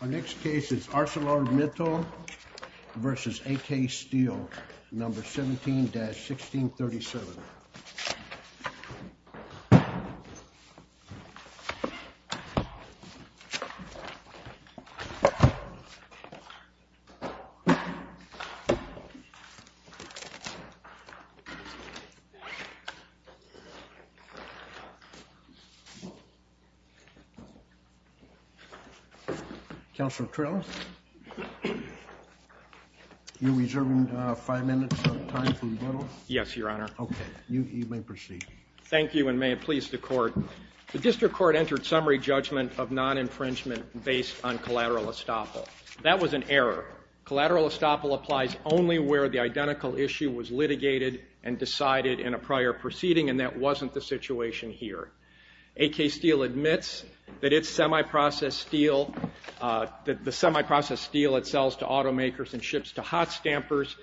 Our next case is ArcelorMittal vs. AK Steel, number 17-1637. The District Court entered summary judgment of non-infringement based on collateral estoppel. That was an error. Collateral estoppel applies only where the identical issue was litigated and decided in a prior proceeding and that wasn't the situation here. AK Steel admits that its semi-processed steel, that the semi-processed steel it sells to automakers and ships to hot stampers,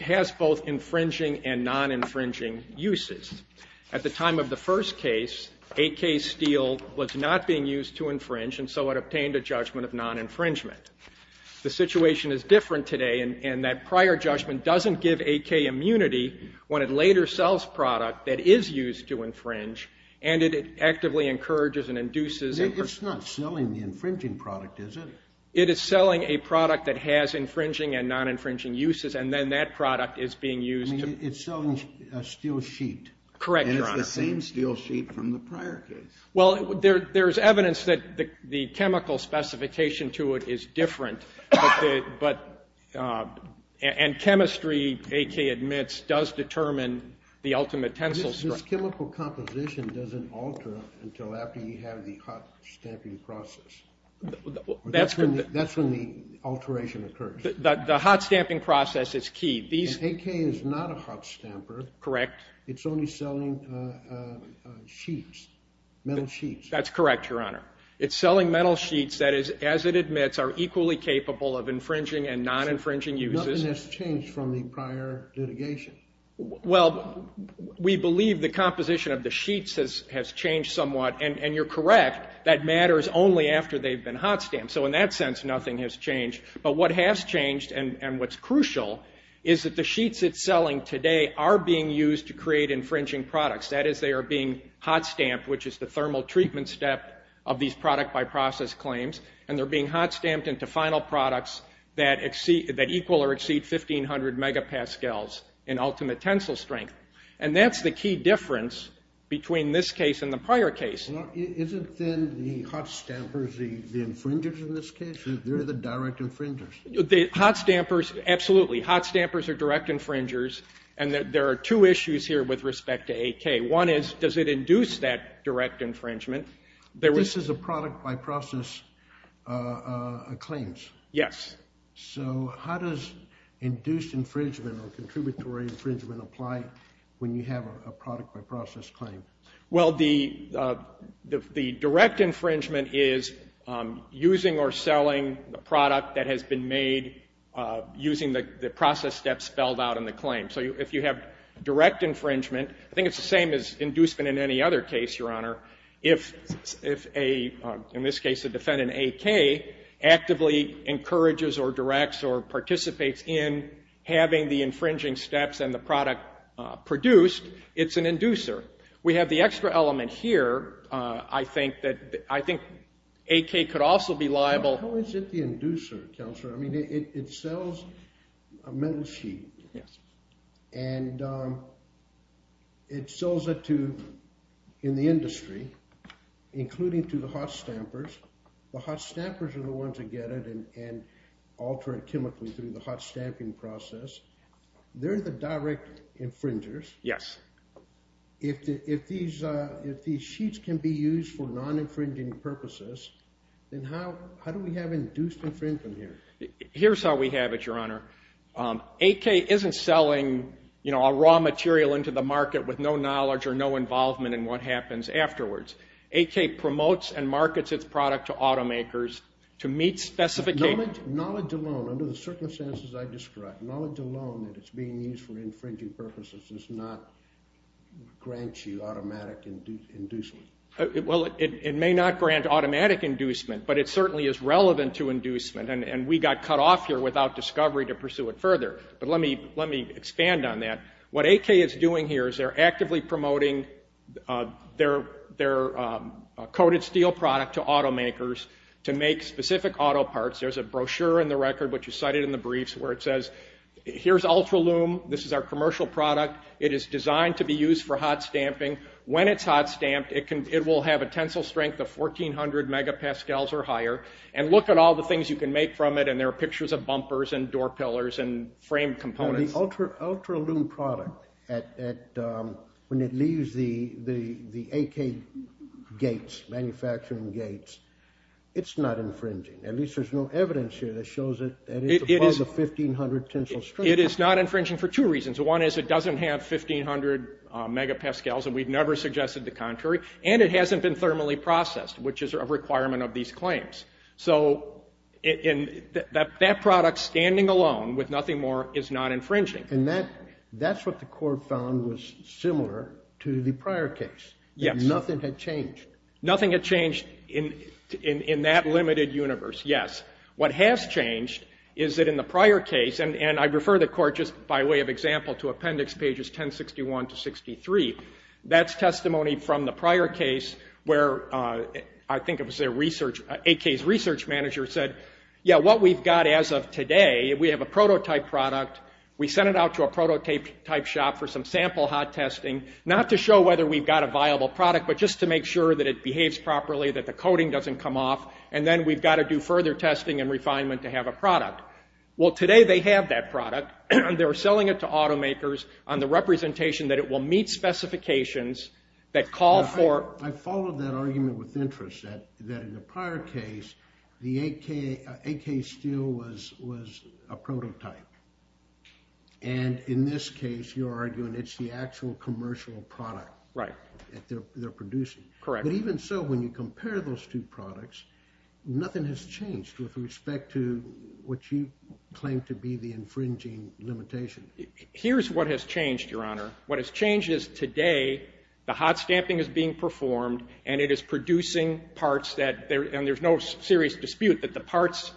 has both infringing and non-infringing uses. At the time of the first case, AK Steel was not being used to infringe and so it obtained a judgment of non-infringement. The situation is different today and that prior judgment doesn't give AK immunity when it later sells product that is used to infringe and it actively encourages and induces. It's not selling the infringing product, is it? It is selling a product that has infringing and non-infringing uses and then that product is being used. It's selling a steel sheet. Correct, Your Honor. And it's the same steel sheet from the prior case. Well, there's evidence that the chemical specification to it is different, but, and chemistry, AK admits, does determine the ultimate tensile strength. This chemical composition doesn't alter until after you have the hot stamping process. That's when the alteration occurs. The hot stamping process is key. AK is not a hot stamper. Correct. It's only selling sheets, metal sheets. That's correct, Your Honor. It's selling metal sheets that is, as it admits, are equally capable of infringing and non-infringing uses. Nothing has changed from the prior litigation. Well, we believe the composition of the sheets has changed somewhat, and you're correct. That matters only after they've been hot stamped. So in that sense, nothing has changed. But what has changed and what's crucial is that the sheets it's selling today are being used to create infringing products, that is, they are being hot stamped, which is the thermal treatment step of these product by process claims, and they're being hot stamped into final products that equal or exceed 1,500 megapascals in ultimate tensile strength, and that's the key difference between this case and the prior case. Well, isn't then the hot stampers the infringers in this case? They're the direct infringers. The hot stampers, absolutely. Hot stampers are direct infringers, and there are two issues here with respect to AK. One is, does it induce that direct infringement? This is a product by process claims. Yes. So how does induced infringement or contributory infringement apply when you have a product by process claim? Well, the direct infringement is using or selling the product that has been made using the process steps spelled out in the claim. So if you have direct infringement, I think it's the same as inducement in any other case, Your Honor. If a, in this case, a defendant, AK, actively encourages or directs or participates in having the infringing steps and the product produced, it's an inducer. We have the extra element here. I think that, I think AK could also be liable. How is it the inducer, Counselor? I mean, it sells a metal sheet. Yes. And it sells it to, in the industry, including to the hot stampers. The hot stampers are the ones that get it and alter it chemically through the hot stamping process. They're the direct infringers. Yes. If these, if these sheets can be used for non-infringing purposes, then how, how do we have induced infringement here? Here's how we have it, Your Honor. AK isn't selling, you know, a raw material into the market with no knowledge or no involvement in what happens afterwards. AK promotes and markets its product to automakers to meet specifications. Knowledge, knowledge alone, under the circumstances I described, knowledge alone that it's being used for infringing purposes does not grant you automatic inducement. Well, it may not grant automatic inducement, but it certainly is relevant to inducement. And we got cut off here without discovery to pursue it further. But let me, let me expand on that. What AK is doing here is they're actively promoting their, their coated steel product to automakers to make specific auto parts. There's a brochure in the record, which is cited in the briefs, where it says, here's Ultralume. This is our commercial product. It is designed to be used for hot stamping. When it's hot stamped, it can, it will have a tensile strength of 1400 megapascals or higher. And look at all the things you can make from it. And there are pictures of bumpers and door pillars and frame components. The Ultralume product at, at, when it leaves the, the, the AK gates, manufacturing gates, it's not infringing, at least there's no evidence here that shows it, that it's a product of 1500 tensile strength. It is not infringing for two reasons. One is it doesn't have 1500 megapascals, and we've never suggested the contrary. And it hasn't been thermally processed, which is a requirement of these claims. So in, that, that product standing alone with nothing more is not infringing. And that, that's what the court found was similar to the prior case. Yes. That nothing had changed. Nothing had changed in, in, in that limited universe. Yes. What has changed is that in the prior case, and, and I refer the court just by way of example to appendix pages 1061 to 63, that's testimony from the prior case where I think it was their research, AK's research manager said, yeah, what we've got as of today, we have a prototype product, we sent it out to a prototype shop for some sample hot testing, not to show whether we've got a viable product, but just to make sure that it behaves properly, that the coating doesn't come off, and then we've got to do further testing and refinement to have a product. Well, today they have that product, and they're selling it to automakers on the representation that it will meet specifications that call for. I followed that argument with interest that, that in the prior case, the AK, AK steel was, was a prototype. And in this case, you're arguing it's the actual commercial product. Right. That they're, they're producing. Correct. But even so, when you compare those two products, nothing has changed with respect to what you claim to be the infringing limitation. Here's what has changed, Your Honor. What has changed is today, the hot stamping is being performed, and it is producing parts that there, and there's no serious dispute that the parts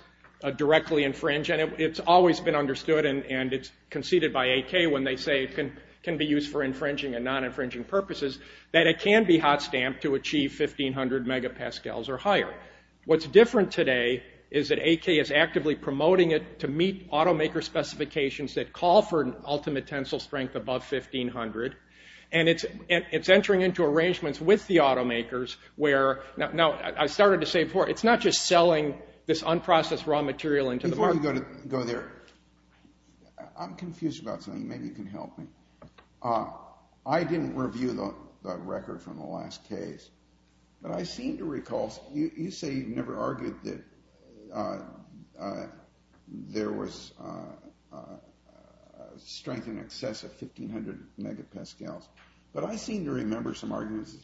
directly infringe, and it, it's always been understood, and, and it's conceded by AK when they say it can, can be used for infringing and non-infringing purposes, that it can be hot stamped to achieve 1500 megapascals or higher. What's different today is that AK is actively promoting it to meet automaker specifications that call for an ultimate tensile strength above 1500, and it's, and it's entering into arrangements with the automakers where, now, I started to say before, it's not just selling this unprocessed raw material into the market. Before you go to, go there, I'm confused about something. Maybe you can help me. I didn't review the, the record from the last case, but I seem to recall, you, you say you never argued that there was strength in excess of 1500 megapascals, but I seem to remember some arguments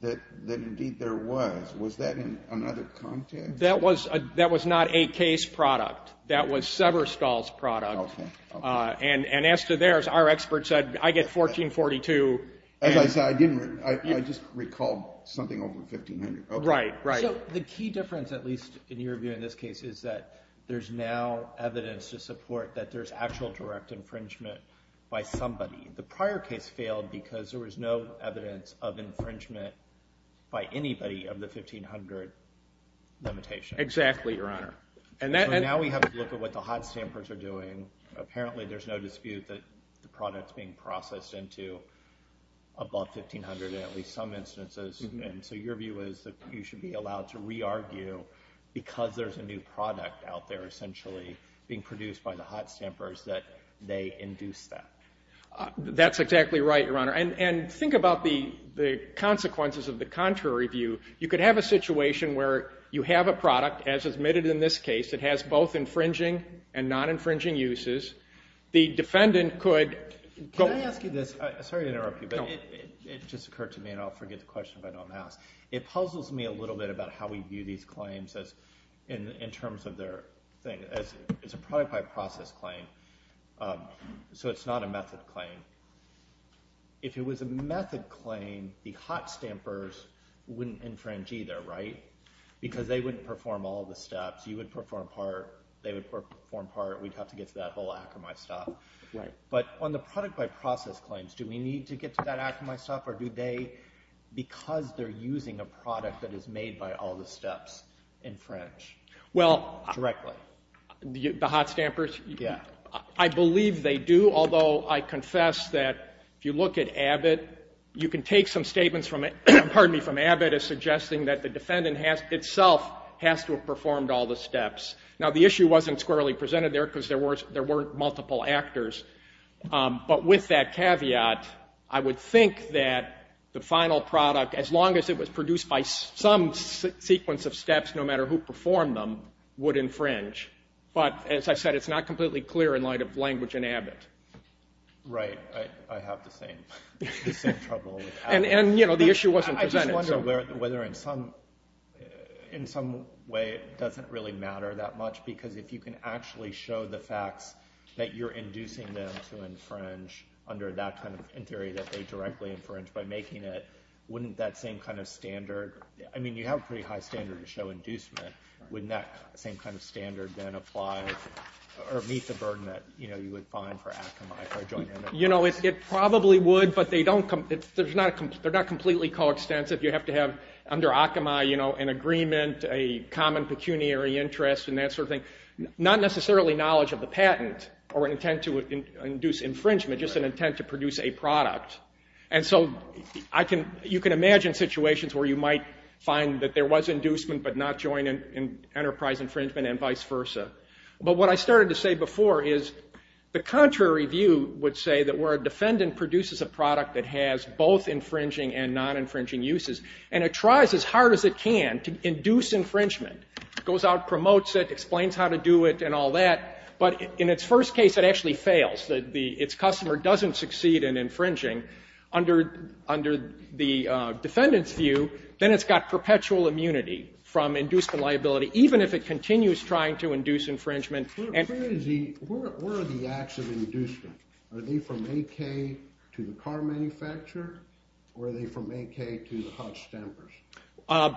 that, that indeed there was. Was that in another context? That was, that was not AK's product. That was Severstall's product, and, and as to theirs, our expert said, I get 1442. As I said, I didn't, I, I just recalled something over 1500. Right, right. So the key difference, at least in your view in this case, is that there's now evidence to support that there's actual direct infringement by somebody. The prior case failed because there was no evidence of infringement by anybody of the 1500 limitation. Exactly, Your Honor. And that, and, So now we have to look at what the hot stampers are doing. Apparently, there's no dispute that the product's being processed into above 1500 in at least some instances, and so your view is that you should be allowed to re-argue because there's a new product out there essentially being produced by the hot stampers that they induced that. That's exactly right, Your Honor. And, and think about the, the consequences of the contrary view. You could have a situation where you have a product, as admitted in this case, it has both infringing and non-infringing uses. The defendant could go, Can I ask you this? Sorry to interrupt you, but it, it just occurred to me, and I'll forget the question if I don't ask. It puzzles me a little bit about how we view these claims as, in, in terms of their thing. As, it's a product by process claim, so it's not a method claim. If it was a method claim, the hot stampers wouldn't infringe either, right? Because they wouldn't perform all the steps. You would perform part, they would perform part. We'd have to get to that whole Akamai stuff. Right. But on the product by process claims, do we need to get to that Akamai stuff, or do they, because they're using a product that is made by all the steps, infringe directly? Well, the, the hot stampers, I believe they do. Although, I confess that if you look at Abbott, you can take some statements from, pardon me, from Abbott as suggesting that the defendant has, itself, has to have performed all the steps. Now the issue wasn't squarely presented there, because there were, there weren't multiple actors. But with that caveat, I would think that the final product, as long as it was produced by some sequence of steps, no matter who performed them, would infringe. But, as I said, it's not completely clear in light of language in Abbott. Right. I, I have the same, the same trouble with Abbott. And, and, you know, the issue wasn't presented. I just wonder whether, whether in some, in some way it doesn't really matter that much, because if you can actually show the facts that you're inducing them to infringe under that kind of, in theory, that they directly infringe by making it, wouldn't that same kind of standard, I mean, you have a pretty high standard to show inducement, wouldn't that same kind of standard then apply, or meet the burden that, you know, you would find for Akamai, if I join him in this case? You know, it, it probably would, but they don't, there's not a, they're not completely coextensive. You have to have, under Akamai, you know, an agreement, a common pecuniary interest, and that sort of thing, not necessarily knowledge of the patent, or an intent to induce infringement, just an intent to produce a product. And so, I can, you can imagine situations where you might find that there was inducement, but not join in, in enterprise infringement, and vice versa. But what I started to say before is, the contrary view would say that where a defendant produces a product that has both infringing and non-infringing uses, and it tries as hard as it can to induce infringement, goes out, promotes it, explains how to do it, and all that, but in its first case, it actually fails. The, the, its customer doesn't succeed in infringing. Under, under the defendant's view, then it's got perpetual immunity from inducement liability, even if it continues trying to induce infringement, and. Where is the, where, where are the acts of infringement? Are they from AK to the car manufacturer, or are they from AK to the hutch stampers?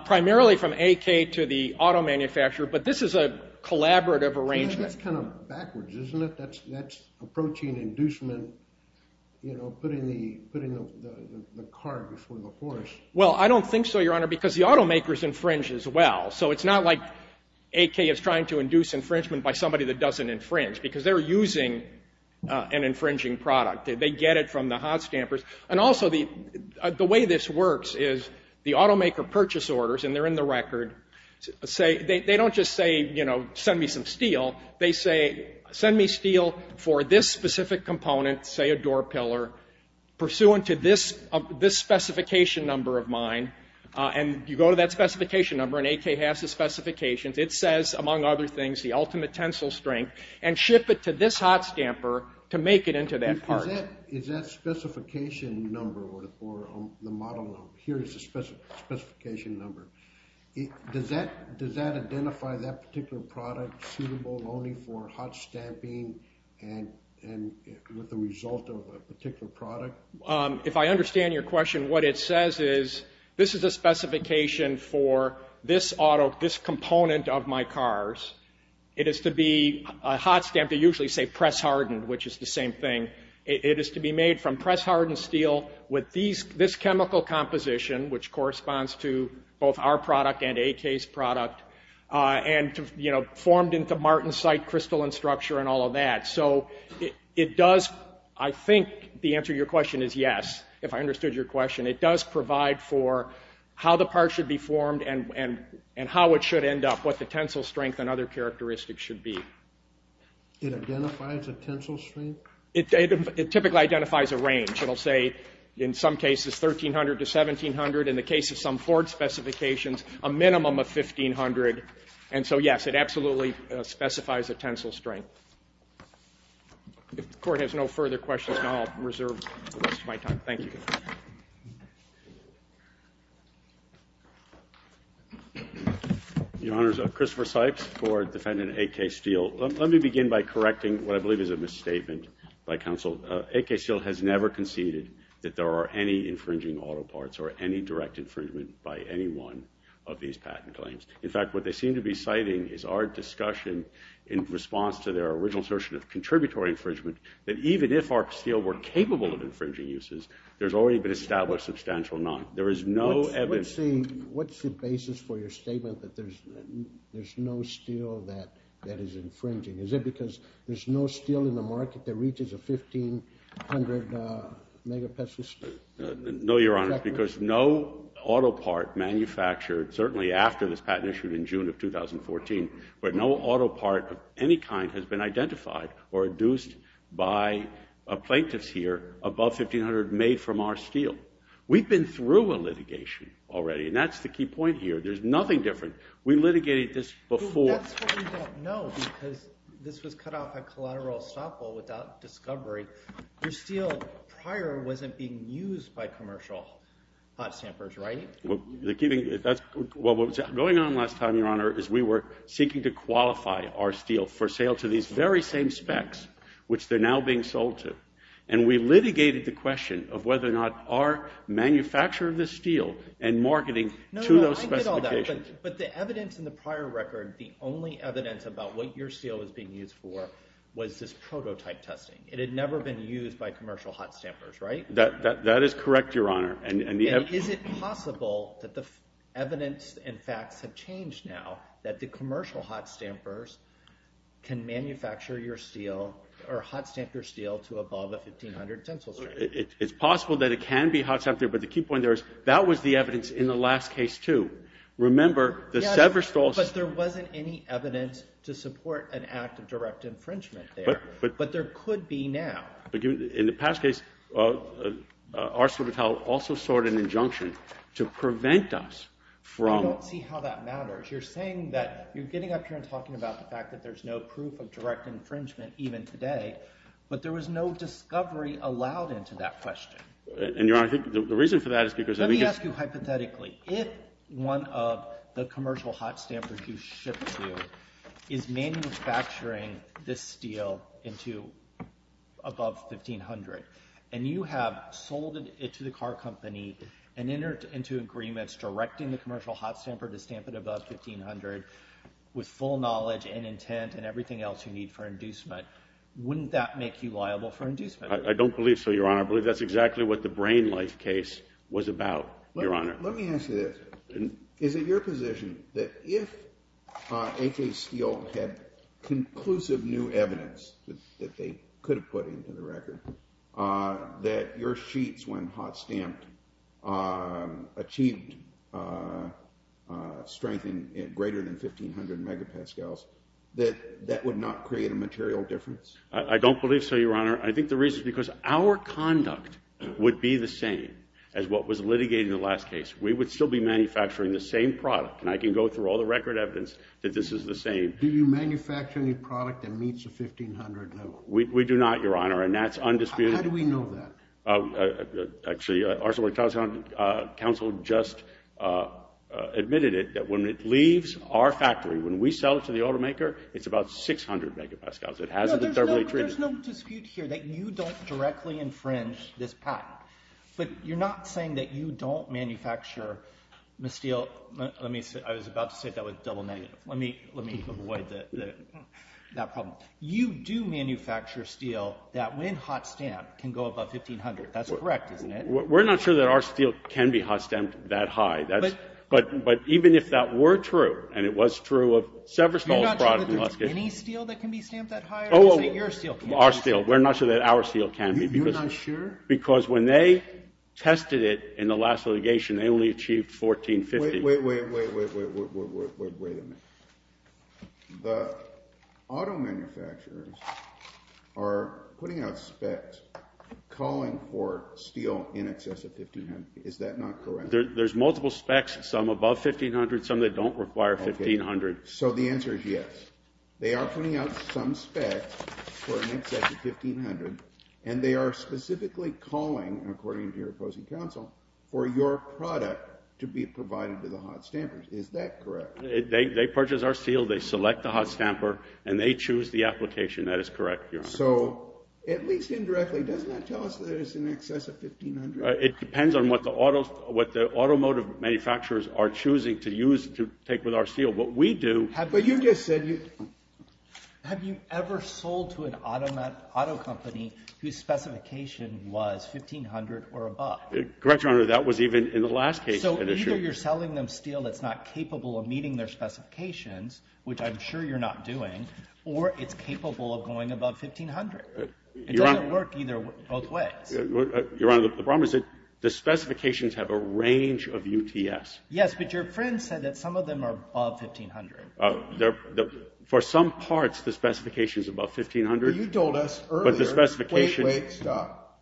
Primarily from AK to the auto manufacturer, but this is a collaborative arrangement. That's kind of backwards, isn't it? That's, that's approaching inducement, you know, putting the, putting the, the, the car before the horse. Well, I don't think so, your honor, because the automakers infringe as well. So, it's not like AK is trying to induce infringement by somebody that doesn't infringe, because they're using an infringing product. They, they get it from the hot stampers. And also, the, the way this works is the automaker purchase orders, and they're in the record, say, they, they don't just say, you know, send me some steel. They say, send me steel for this specific component, say a door pillar, pursuant to this, this specification number of mine, and you go to that specification number, and AK has the specifications. It says, among other things, the ultimate tensile strength, and ship it to this hot stamper to make it into that part. Is that, is that specification number, or the model number? Here is the specification number. Does that, does that identify that particular product suitable only for hot stamping, and, and with the result of a particular product? If I understand your question, what it says is, this is a specification for this auto, this component of my cars. It is to be hot stamped, they usually say press hardened, which is the same thing. It is to be made from press hardened steel with these, this chemical composition, which corresponds to both our product and AK's product, and, you know, formed into martensite crystalline structure and all of that. So, it, it does, I think the answer to your question is yes, if I understood your question. It does provide for how the part should be formed, and, and, and how it should end up, what the tensile strength and other characteristics should be. It identifies a tensile strength? It typically identifies a range. It'll say, in some cases, 1,300 to 1,700. In the case of some Ford specifications, a minimum of 1,500. And so, yes, it absolutely specifies a tensile strength. If the court has no further questions, I'll reserve the rest of my time. Thank you. Your Honors, Christopher Sipes for defendant AK Steel. Let me begin by correcting what I believe is a misstatement by counsel. AK Steel has never conceded that there are any infringing auto parts, or any direct infringement by anyone of these patent claims. In fact, what they seem to be citing is our discussion in response to their original assertion of contributory infringement, that even if our steel were capable of infringing uses, there's already been established substantial not. There is no evidence. What's the, what's the basis for your statement that there's, there's no steel that, that is infringing? Is it because there's no steel in the market that reaches a 1,500 megapascal steel? No, Your Honors, because no auto part manufactured, certainly after this patent issued in June of 2014, but no auto part of any kind has been identified or induced by a plaintiff's ear above 1,500 made from our steel. We've been through a litigation already, and that's the key point here. There's nothing different. We litigated this before. That's what we don't know, because this was cut off at collateral estoppel without discovery. Your steel prior wasn't being used by commercial hot stampers, right? Well, the key thing, that's, well, what was going on last time, Your Honor, is we were seeking to qualify our steel for sale to these very same specs, which they're now being sold to. And we litigated the question of whether or not our manufacturer of this steel and marketing to those specifications. But the evidence in the prior record, the only evidence about what your steel was being used for was this prototype testing. It had never been used by commercial hot stampers, right? That is correct, Your Honor. And is it possible that the evidence and facts have changed now that the commercial hot stampers can manufacture your steel or hot stamp your steel to above a 1,500 tensile strength? It's possible that it can be hot stamped, but the key point there is that was the evidence in the last case, too. Remember, the Severstall system... Yes, but there wasn't any evidence to support an act of direct infringement there. But... But there could be now. But in the past case, ArcelorMittal also sought an injunction to prevent us from... I don't see how that matters. You're saying that you're getting up here and talking about the fact that there's no proof of direct infringement even today, but there was no discovery allowed into that question. And, Your Honor, I think the reason for that is because... Let me ask you hypothetically. If one of the commercial hot stampers you ship to is manufacturing this steel into above 1,500 and you have sold it to the car company and entered into agreements directing the commercial hot stamper to stamp it above 1,500 with full knowledge and intent and everything else you need for inducement, wouldn't that make you liable for inducement? I don't believe so, Your Honor. I believe that's exactly what the Brain Life case was about, Your Honor. Let me ask you this. Is it your position that if A.K. Steel had conclusive new evidence that they could have put into the record, that your sheets, when hot stamped, achieved strength greater than 1,500 megapascals, that that would not create a material difference? I don't believe so, Your Honor. I think the reason is because our conduct would be the same as what was litigated in the last case. We would still be manufacturing the same product and I can go through all the record evidence that this is the same. Do you manufacture any product that meets the 1,500 level? We do not, Your Honor, and that's undisputed. How do we know that? Actually, Arsenal and Towson Council just admitted it, that when it leaves our factory, when we sell it to the automaker, it's about 600 megapascals. It hasn't been thoroughly treated. There's no dispute here that you don't directly infringe this patent, but you're not saying that you don't manufacture steel... I was about to say that was double negative. Let me avoid that problem. You do manufacture steel that, when hot stamped, can go above 1,500. That's correct, isn't it? We're not sure that our steel can be hot stamped that high. But even if that were true, and it was true of Severstall's product in the last case... You're not sure that there's any steel that can be stamped that high? Oh, our steel. We're not sure that our steel can be. You're not sure? Because when they tested it in the last litigation, they only achieved 1,450. Wait, wait, wait, wait, wait, wait, wait, wait, wait, wait a minute. The auto manufacturers are putting out specs calling for steel in excess of 1,500. Is that not correct? There's multiple specs, some above 1,500, some that don't require 1,500. So the answer is yes. They are putting out some specs for an excess of 1,500, and they are specifically calling, according to your opposing counsel, for your product to be provided to the hot stampers. Is that correct? They purchase our steel, they select the hot stamper, and they choose the application. That is correct, Your Honor. So, at least indirectly, does that tell us that it's in excess of 1,500? It depends on what the automotive manufacturers are choosing to use to take with our steel. What we do... But you just said... Have you ever sold to an auto company whose specification was 1,500 or above? Correct, Your Honor, that was even in the last case. So either you're selling them steel that's not capable of meeting their specifications, which I'm sure you're not doing, or it's capable of going above 1,500. It doesn't work either... both ways. Your Honor, the problem is that the specifications have a range of UTS. Yes, but your friend said that some of them are above 1,500. For some parts, the specification's above 1,500. But you told us earlier... But the specification... Wait, wait, stop.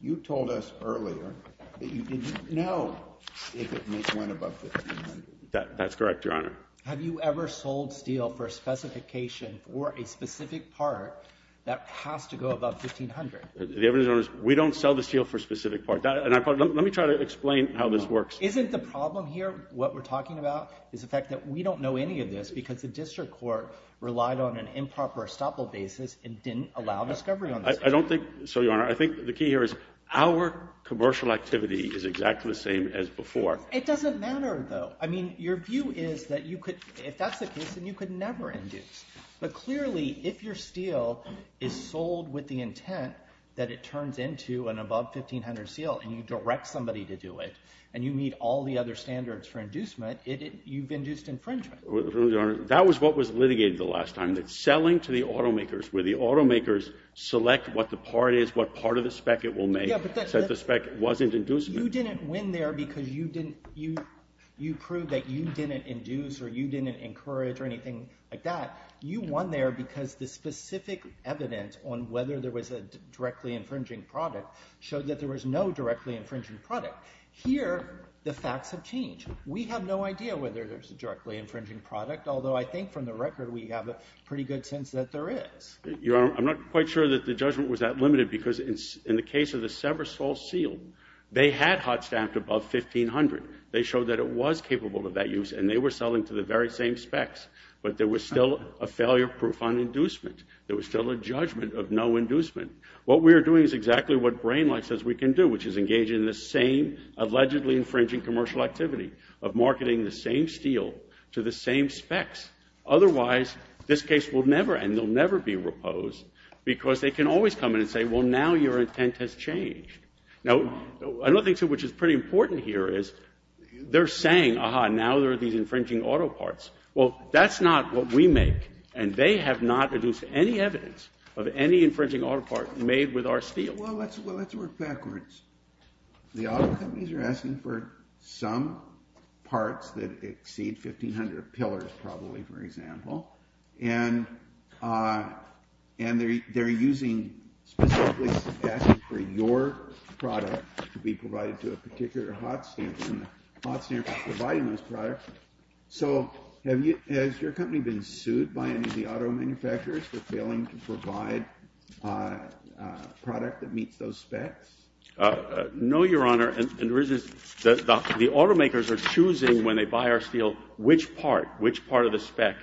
You told us earlier that you didn't know if it went above 1,500. That's correct, Your Honor. Have you ever sold steel for a specification for a specific part that has to go above 1,500? The evidence, Your Honor, is we don't sell the steel for a specific part. And let me try to explain how this works. Isn't the problem here, what we're talking about, is the fact that we don't know any of this because the district court relied on an improper estoppel basis and didn't allow discovery on this. I don't think so, Your Honor. I think the key here is our commercial activity is exactly the same as before. It doesn't matter, though. I mean, your view is that you could... If that's the case, then you could never induce. But clearly, if your steel is sold with the intent that it turns into an above 1,500 seal and you direct somebody to do it, and you meet all the other standards for inducement, you've induced infringement. That was what was litigated the last time, that selling to the automakers, where the automakers select what the part is, what part of the spec it will make, so that the spec wasn't induced. You didn't win there because you didn't... You proved that you didn't induce or you didn't encourage or anything like that. You won there because the specific evidence on whether there was a directly infringing product showed that there was no directly infringing product. Here, the facts have changed. We have no idea whether there's a directly infringing product, although I think from the record, we have a pretty good sense that there is. Your Honor, I'm not quite sure that the judgment was that limited because in the case of the Seversol seal, they had hot stamped above 1,500. They showed that it was capable of that use and they were selling to the very same specs. But there was still a failure proof on inducement. There was still a judgment of no inducement. What we are doing is exactly what BrainLite says we can do, which is engage in the same allegedly infringing commercial activity of marketing the same steel to the same specs. Otherwise, this case will never end. They'll never be reposed because they can always come in and say, well, now your intent has changed. Now, another thing which is pretty important here is they're saying, aha, now there are these infringing auto parts. Well, that's not what we make and they have not produced any evidence of any infringing auto part made with our steel. Well, let's work backwards. The auto companies are asking for some parts that exceed 1,500 pillars probably, for example, and they're using specifically asking for your product to be provided to a particular hot stamp and the hot stamp is providing those products. So has your company been sued by any of the auto manufacturers for failing to provide a product that meets those specs? No, Your Honor, and the reason is the automakers are choosing when they buy our steel which part, which part of the spec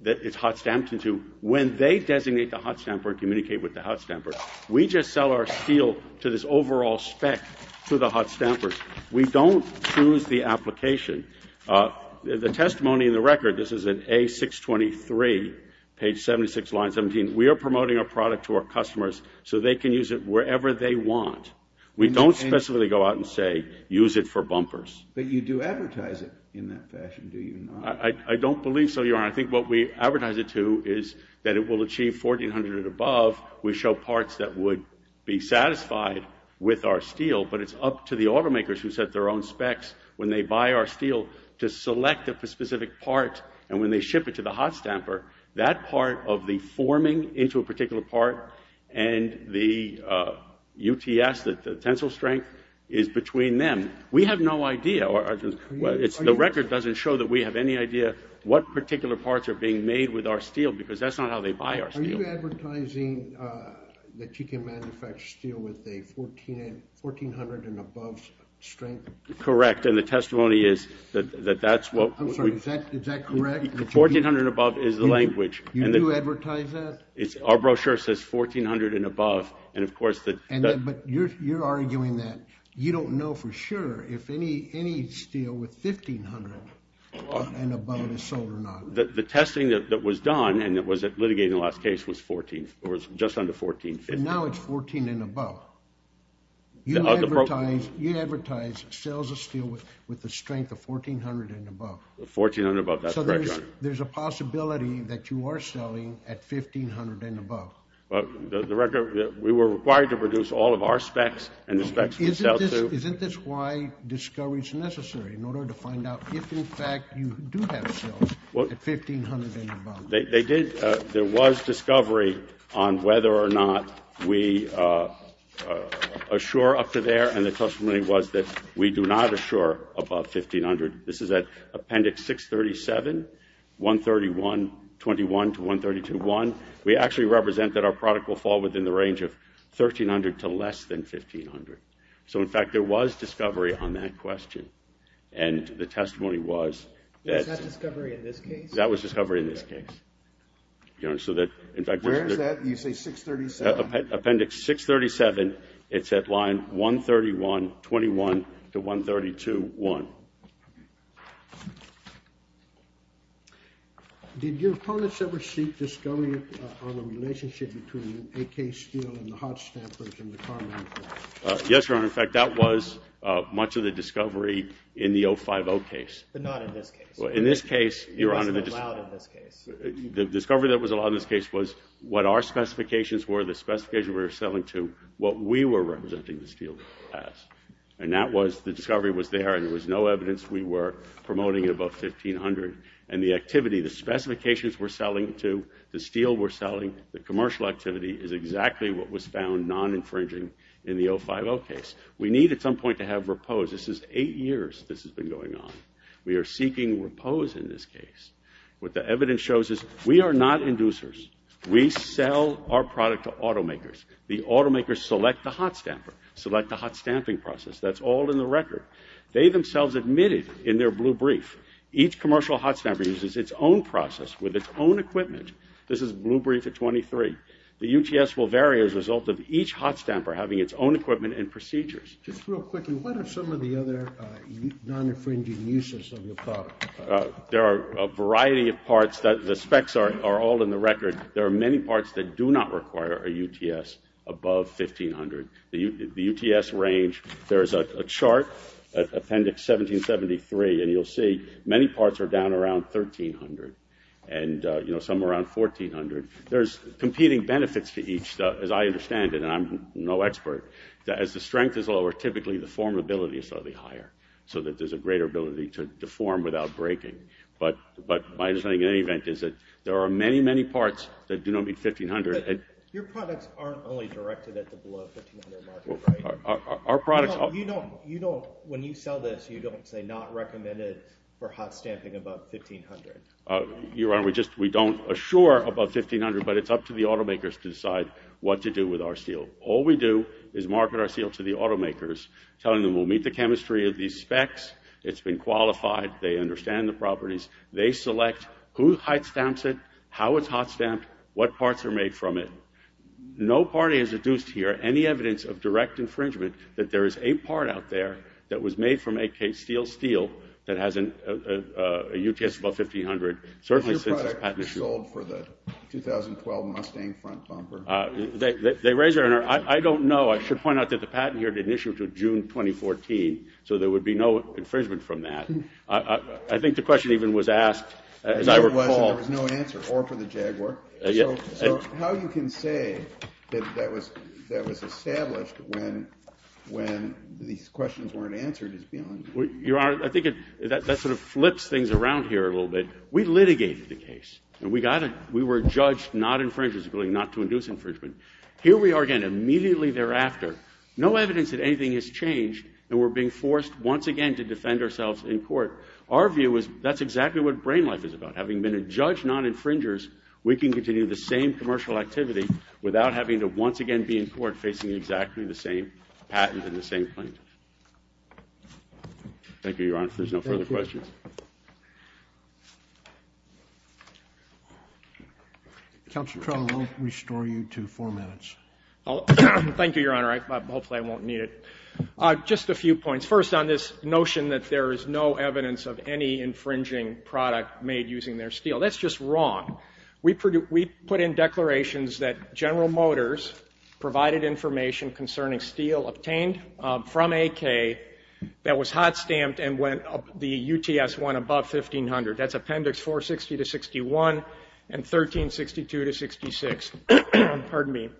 that it's hot stamped into when they designate the hot stamper and communicate with the hot stamper. We just sell our steel to this overall spec to the hot stampers. We don't choose the application. The testimony in the record, this is in A623, page 76, line 17. We are promoting our product to our customers so they can use it wherever they want. We don't specifically go out and say, use it for bumpers. But you do advertise it in that fashion, do you not? I don't believe so, Your Honor. I think what we advertise it to is that it will achieve 1,400 and above. We show parts that would be satisfied with our steel, but it's up to the automakers who set their own specs when they buy our steel to select a specific part. And when they ship it to the hot stamper, that part of the forming into a particular part and the UTS, the tensile strength, is between them. We have no idea. The record doesn't show that we have any idea what particular parts are being made with our steel because that's not how they buy our steel. Are you advertising that you can manufacture steel with a 1,400 and above strength? Correct. And the testimony is that that's what... I'm sorry, is that correct? 1,400 and above is the language. You do advertise that? Our brochure says 1,400 and above. And of course... But you're arguing that you don't know for sure if any steel with 1,500 and above is sold or not. The testing that was done, and it was litigated in the last case, was just under 1,450. Now it's 1,400 and above. You advertise sales of steel with the strength of 1,400 and above. 1,400 and above, that's right, Your Honor. So there's a possibility that you are selling at 1,500 and above. Well, the record... We were required to produce all of our specs and the specs we sell to... Isn't this why discovery is necessary in order to find out if, in fact, you do have sales at 1,500 and above? They did... There was discovery on whether or not we assure up to there, and the testimony was that we do not assure above 1,500. This is at Appendix 637, 131, 21 to 132.1. We actually represent that our product will fall within the range of 1,300 to less than 1,500. So, in fact, there was discovery on that question. And the testimony was that... Was that discovery in this case? That was discovery in this case. Your Honor, so that, in fact... Where is that? You say 637? Appendix 637. It's at Line 131, 21 to 132.1. Did your opponents ever seek discovery on a relationship between AK Steel and the hot stampers in the commonwealth? Yes, Your Honor. In fact, that was much of the discovery in the 050 case. But not in this case. In this case, Your Honor... It wasn't allowed in this case. The discovery that was allowed in this case was what our specifications were, the specifications we were selling to, what we were representing the steel as. And that was... The discovery was there, and there was no evidence we were promoting above 1,500. And the activity, the specifications we're selling to, the steel we're selling, the commercial activity is exactly what was found non-infringing in the 050 case. We need, at some point, to have repose. This is eight years this has been going on. We are seeking repose in this case. What the evidence shows is we are not inducers. We sell our product to automakers. The automakers select the hot stamper, select the hot stamping process. That's all in the record. They themselves admitted in their blue brief, each commercial hot stamper uses its own process with its own equipment. This is blue brief at 23. The UTS will vary as a result of each hot stamper having its own equipment and procedures. Just real quickly, what are some of the other non-infringing uses of your product? There are a variety of parts. The specs are all in the record. There are many parts that do not require a UTS above 1,500. The UTS range, there's a chart, Appendix 1773, and you'll see many parts are down around 1,300 and some around 1,400. There's competing benefits to each, as I understand it, and I'm no expert. As the strength is lower, typically the formability is slightly higher so that there's a greater ability to form without breaking. But my understanding, in any event, is that there are many, many parts that do not meet 1,500. Your products aren't only directed at the below 1,500 market, right? Our products are. When you sell this, you don't say not recommended for hot stamping above 1,500. Your Honor, we don't assure above 1,500, but it's up to the automakers to decide what to do with our steel. All we do is market our steel to the automakers, telling them we'll meet the chemistry of these specs, it's been qualified, they understand the properties. They select who hot stamps it, how it's hot stamped, what parts are made from it. No party is adduced here any evidence of direct infringement that there is a part out there that was made from AK steel steel that has a UTS above 1,500, certainly since this patent issue. Is your product sold for the 2012 Mustang front bumper? They raise your Honor, I don't know. I should point out that the patent here to June 2014, so there would be no infringement from that. I think the question even was asked, as I recall. There was no answer, or for the Jaguar. So how you can say that that was established when these questions weren't answered is beyond me. Your Honor, I think that sort of flips things around here a little bit. We litigated the case. We were judged not infringing, not to induce infringement. Here we are again, immediately thereafter, no evidence that anything has changed, and we're being forced once again to defend ourselves in court. Our view is that's exactly what brain life is about. Having been a judge, not infringers, we can continue the same commercial activity without having to once again be in court, facing exactly the same patent and the same plaintiff. Thank you, Your Honor. If there's no further questions. Thank you. Counselor, I'll restore you to four minutes. Thank you, Your Honor. Hopefully I won't need it. Just a few points. First, on this notion that there is no evidence of any infringing product made using their steel. That's just wrong. We put in declarations that General Motors provided information concerning steel obtained from AK that was hot stamped and went up the UTS-1 above 1500. That's Appendix 460 to 61 and 1362 to 66. Pardon me.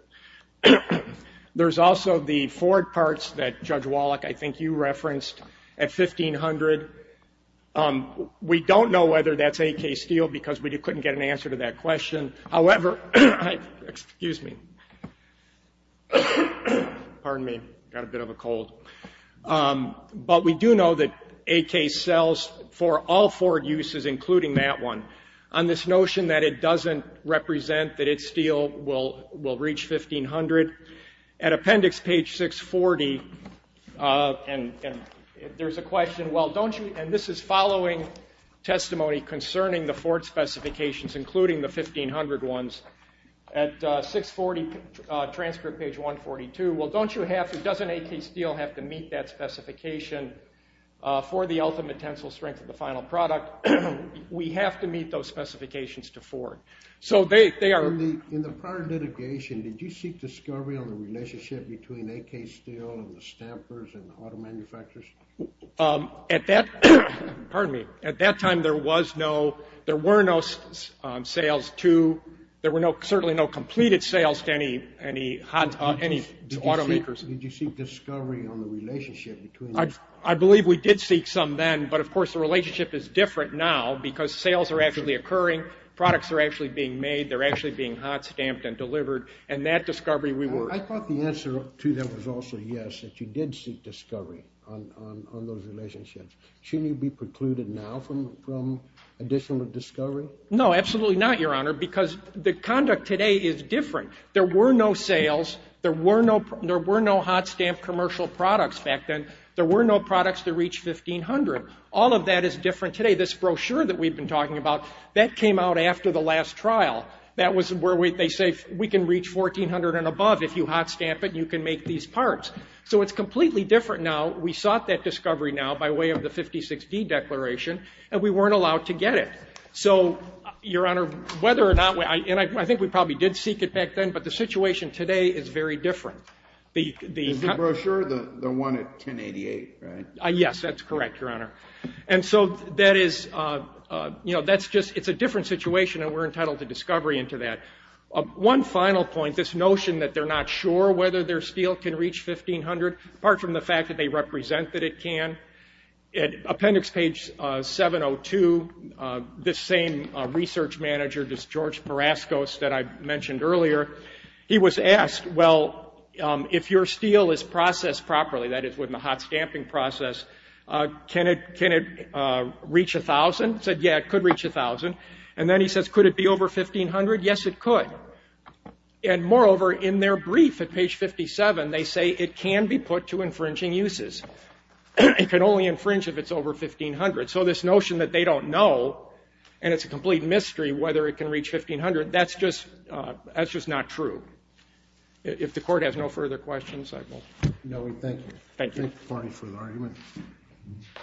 There's also the Ford parts that Judge Wallach, I think, you referenced at 1500. We don't know whether that's AK steel because we couldn't get an answer to that question. However, excuse me. Pardon me. Got a bit of a cold. But we do know that AK sells for all Ford uses, including that one. On this notion that it doesn't represent that its steel will reach 1500, at Appendix page 640, and there's a question, well, don't you? And this is following testimony concerning the Ford specifications, including the 1500 ones. At 640, transcript page 142, well, don't you have to, doesn't AK steel have to meet that specification for the ultimate tensile strength of the final product? We have to meet those specifications to Ford. So they are. In the prior litigation, did you seek discovery on the relationship between AK steel and the stampers and the auto manufacturers? At that, pardon me, at that time there was no, there were no sales to, there were certainly no completed sales to any automakers. Did you seek discovery on the relationship between these? I believe we did seek some then, but of course, the relationship is different now because sales are actually occurring, products are actually being made, they're actually being hot stamped and delivered, and that discovery we were. I thought the answer to that was also yes, that you did seek discovery on those relationships. Shouldn't you be precluded now from additional discovery? No, absolutely not, Your Honor, because the conduct today is different. There were no sales, there were no, there were no hot stamped commercial products back then, there were no products to reach 1500. All of that is different today. This brochure that we've been talking about, that came out after the last trial. That was where they say we can reach 1400 and above if you hot stamp it and you can make these parts. So it's completely different now. We sought that discovery now by way of the 56D Declaration, and we weren't allowed to get it. So, Your Honor, whether or not, and I think we probably did seek it back then, but the situation today is very different. Is the brochure the one at 1088, right? Yes, that's correct, Your Honor. And so that is, you know, that's just, it's a different situation, and we're entitled to discovery into that. One final point, this notion that they're not sure whether their steel can reach 1500, apart from the fact that they represent that it can. At appendix page 702, this same research manager, this George Peraskos that I mentioned earlier, he was asked, well, if your steel is processed properly, that is with the hot stamping process, can it reach a thousand? He said, yeah, it could reach a thousand. And then he says, could it be over 1500? Yes, it could. And moreover, in their brief at page 57, they say it can be put to infringing uses. It can only infringe if it's over 1500. So this notion that they don't know, and it's a complete mystery whether it can reach 1500, that's just not true. If the Court has no further questions, I will. No, we thank you. Thank you. Thank the party for the argument.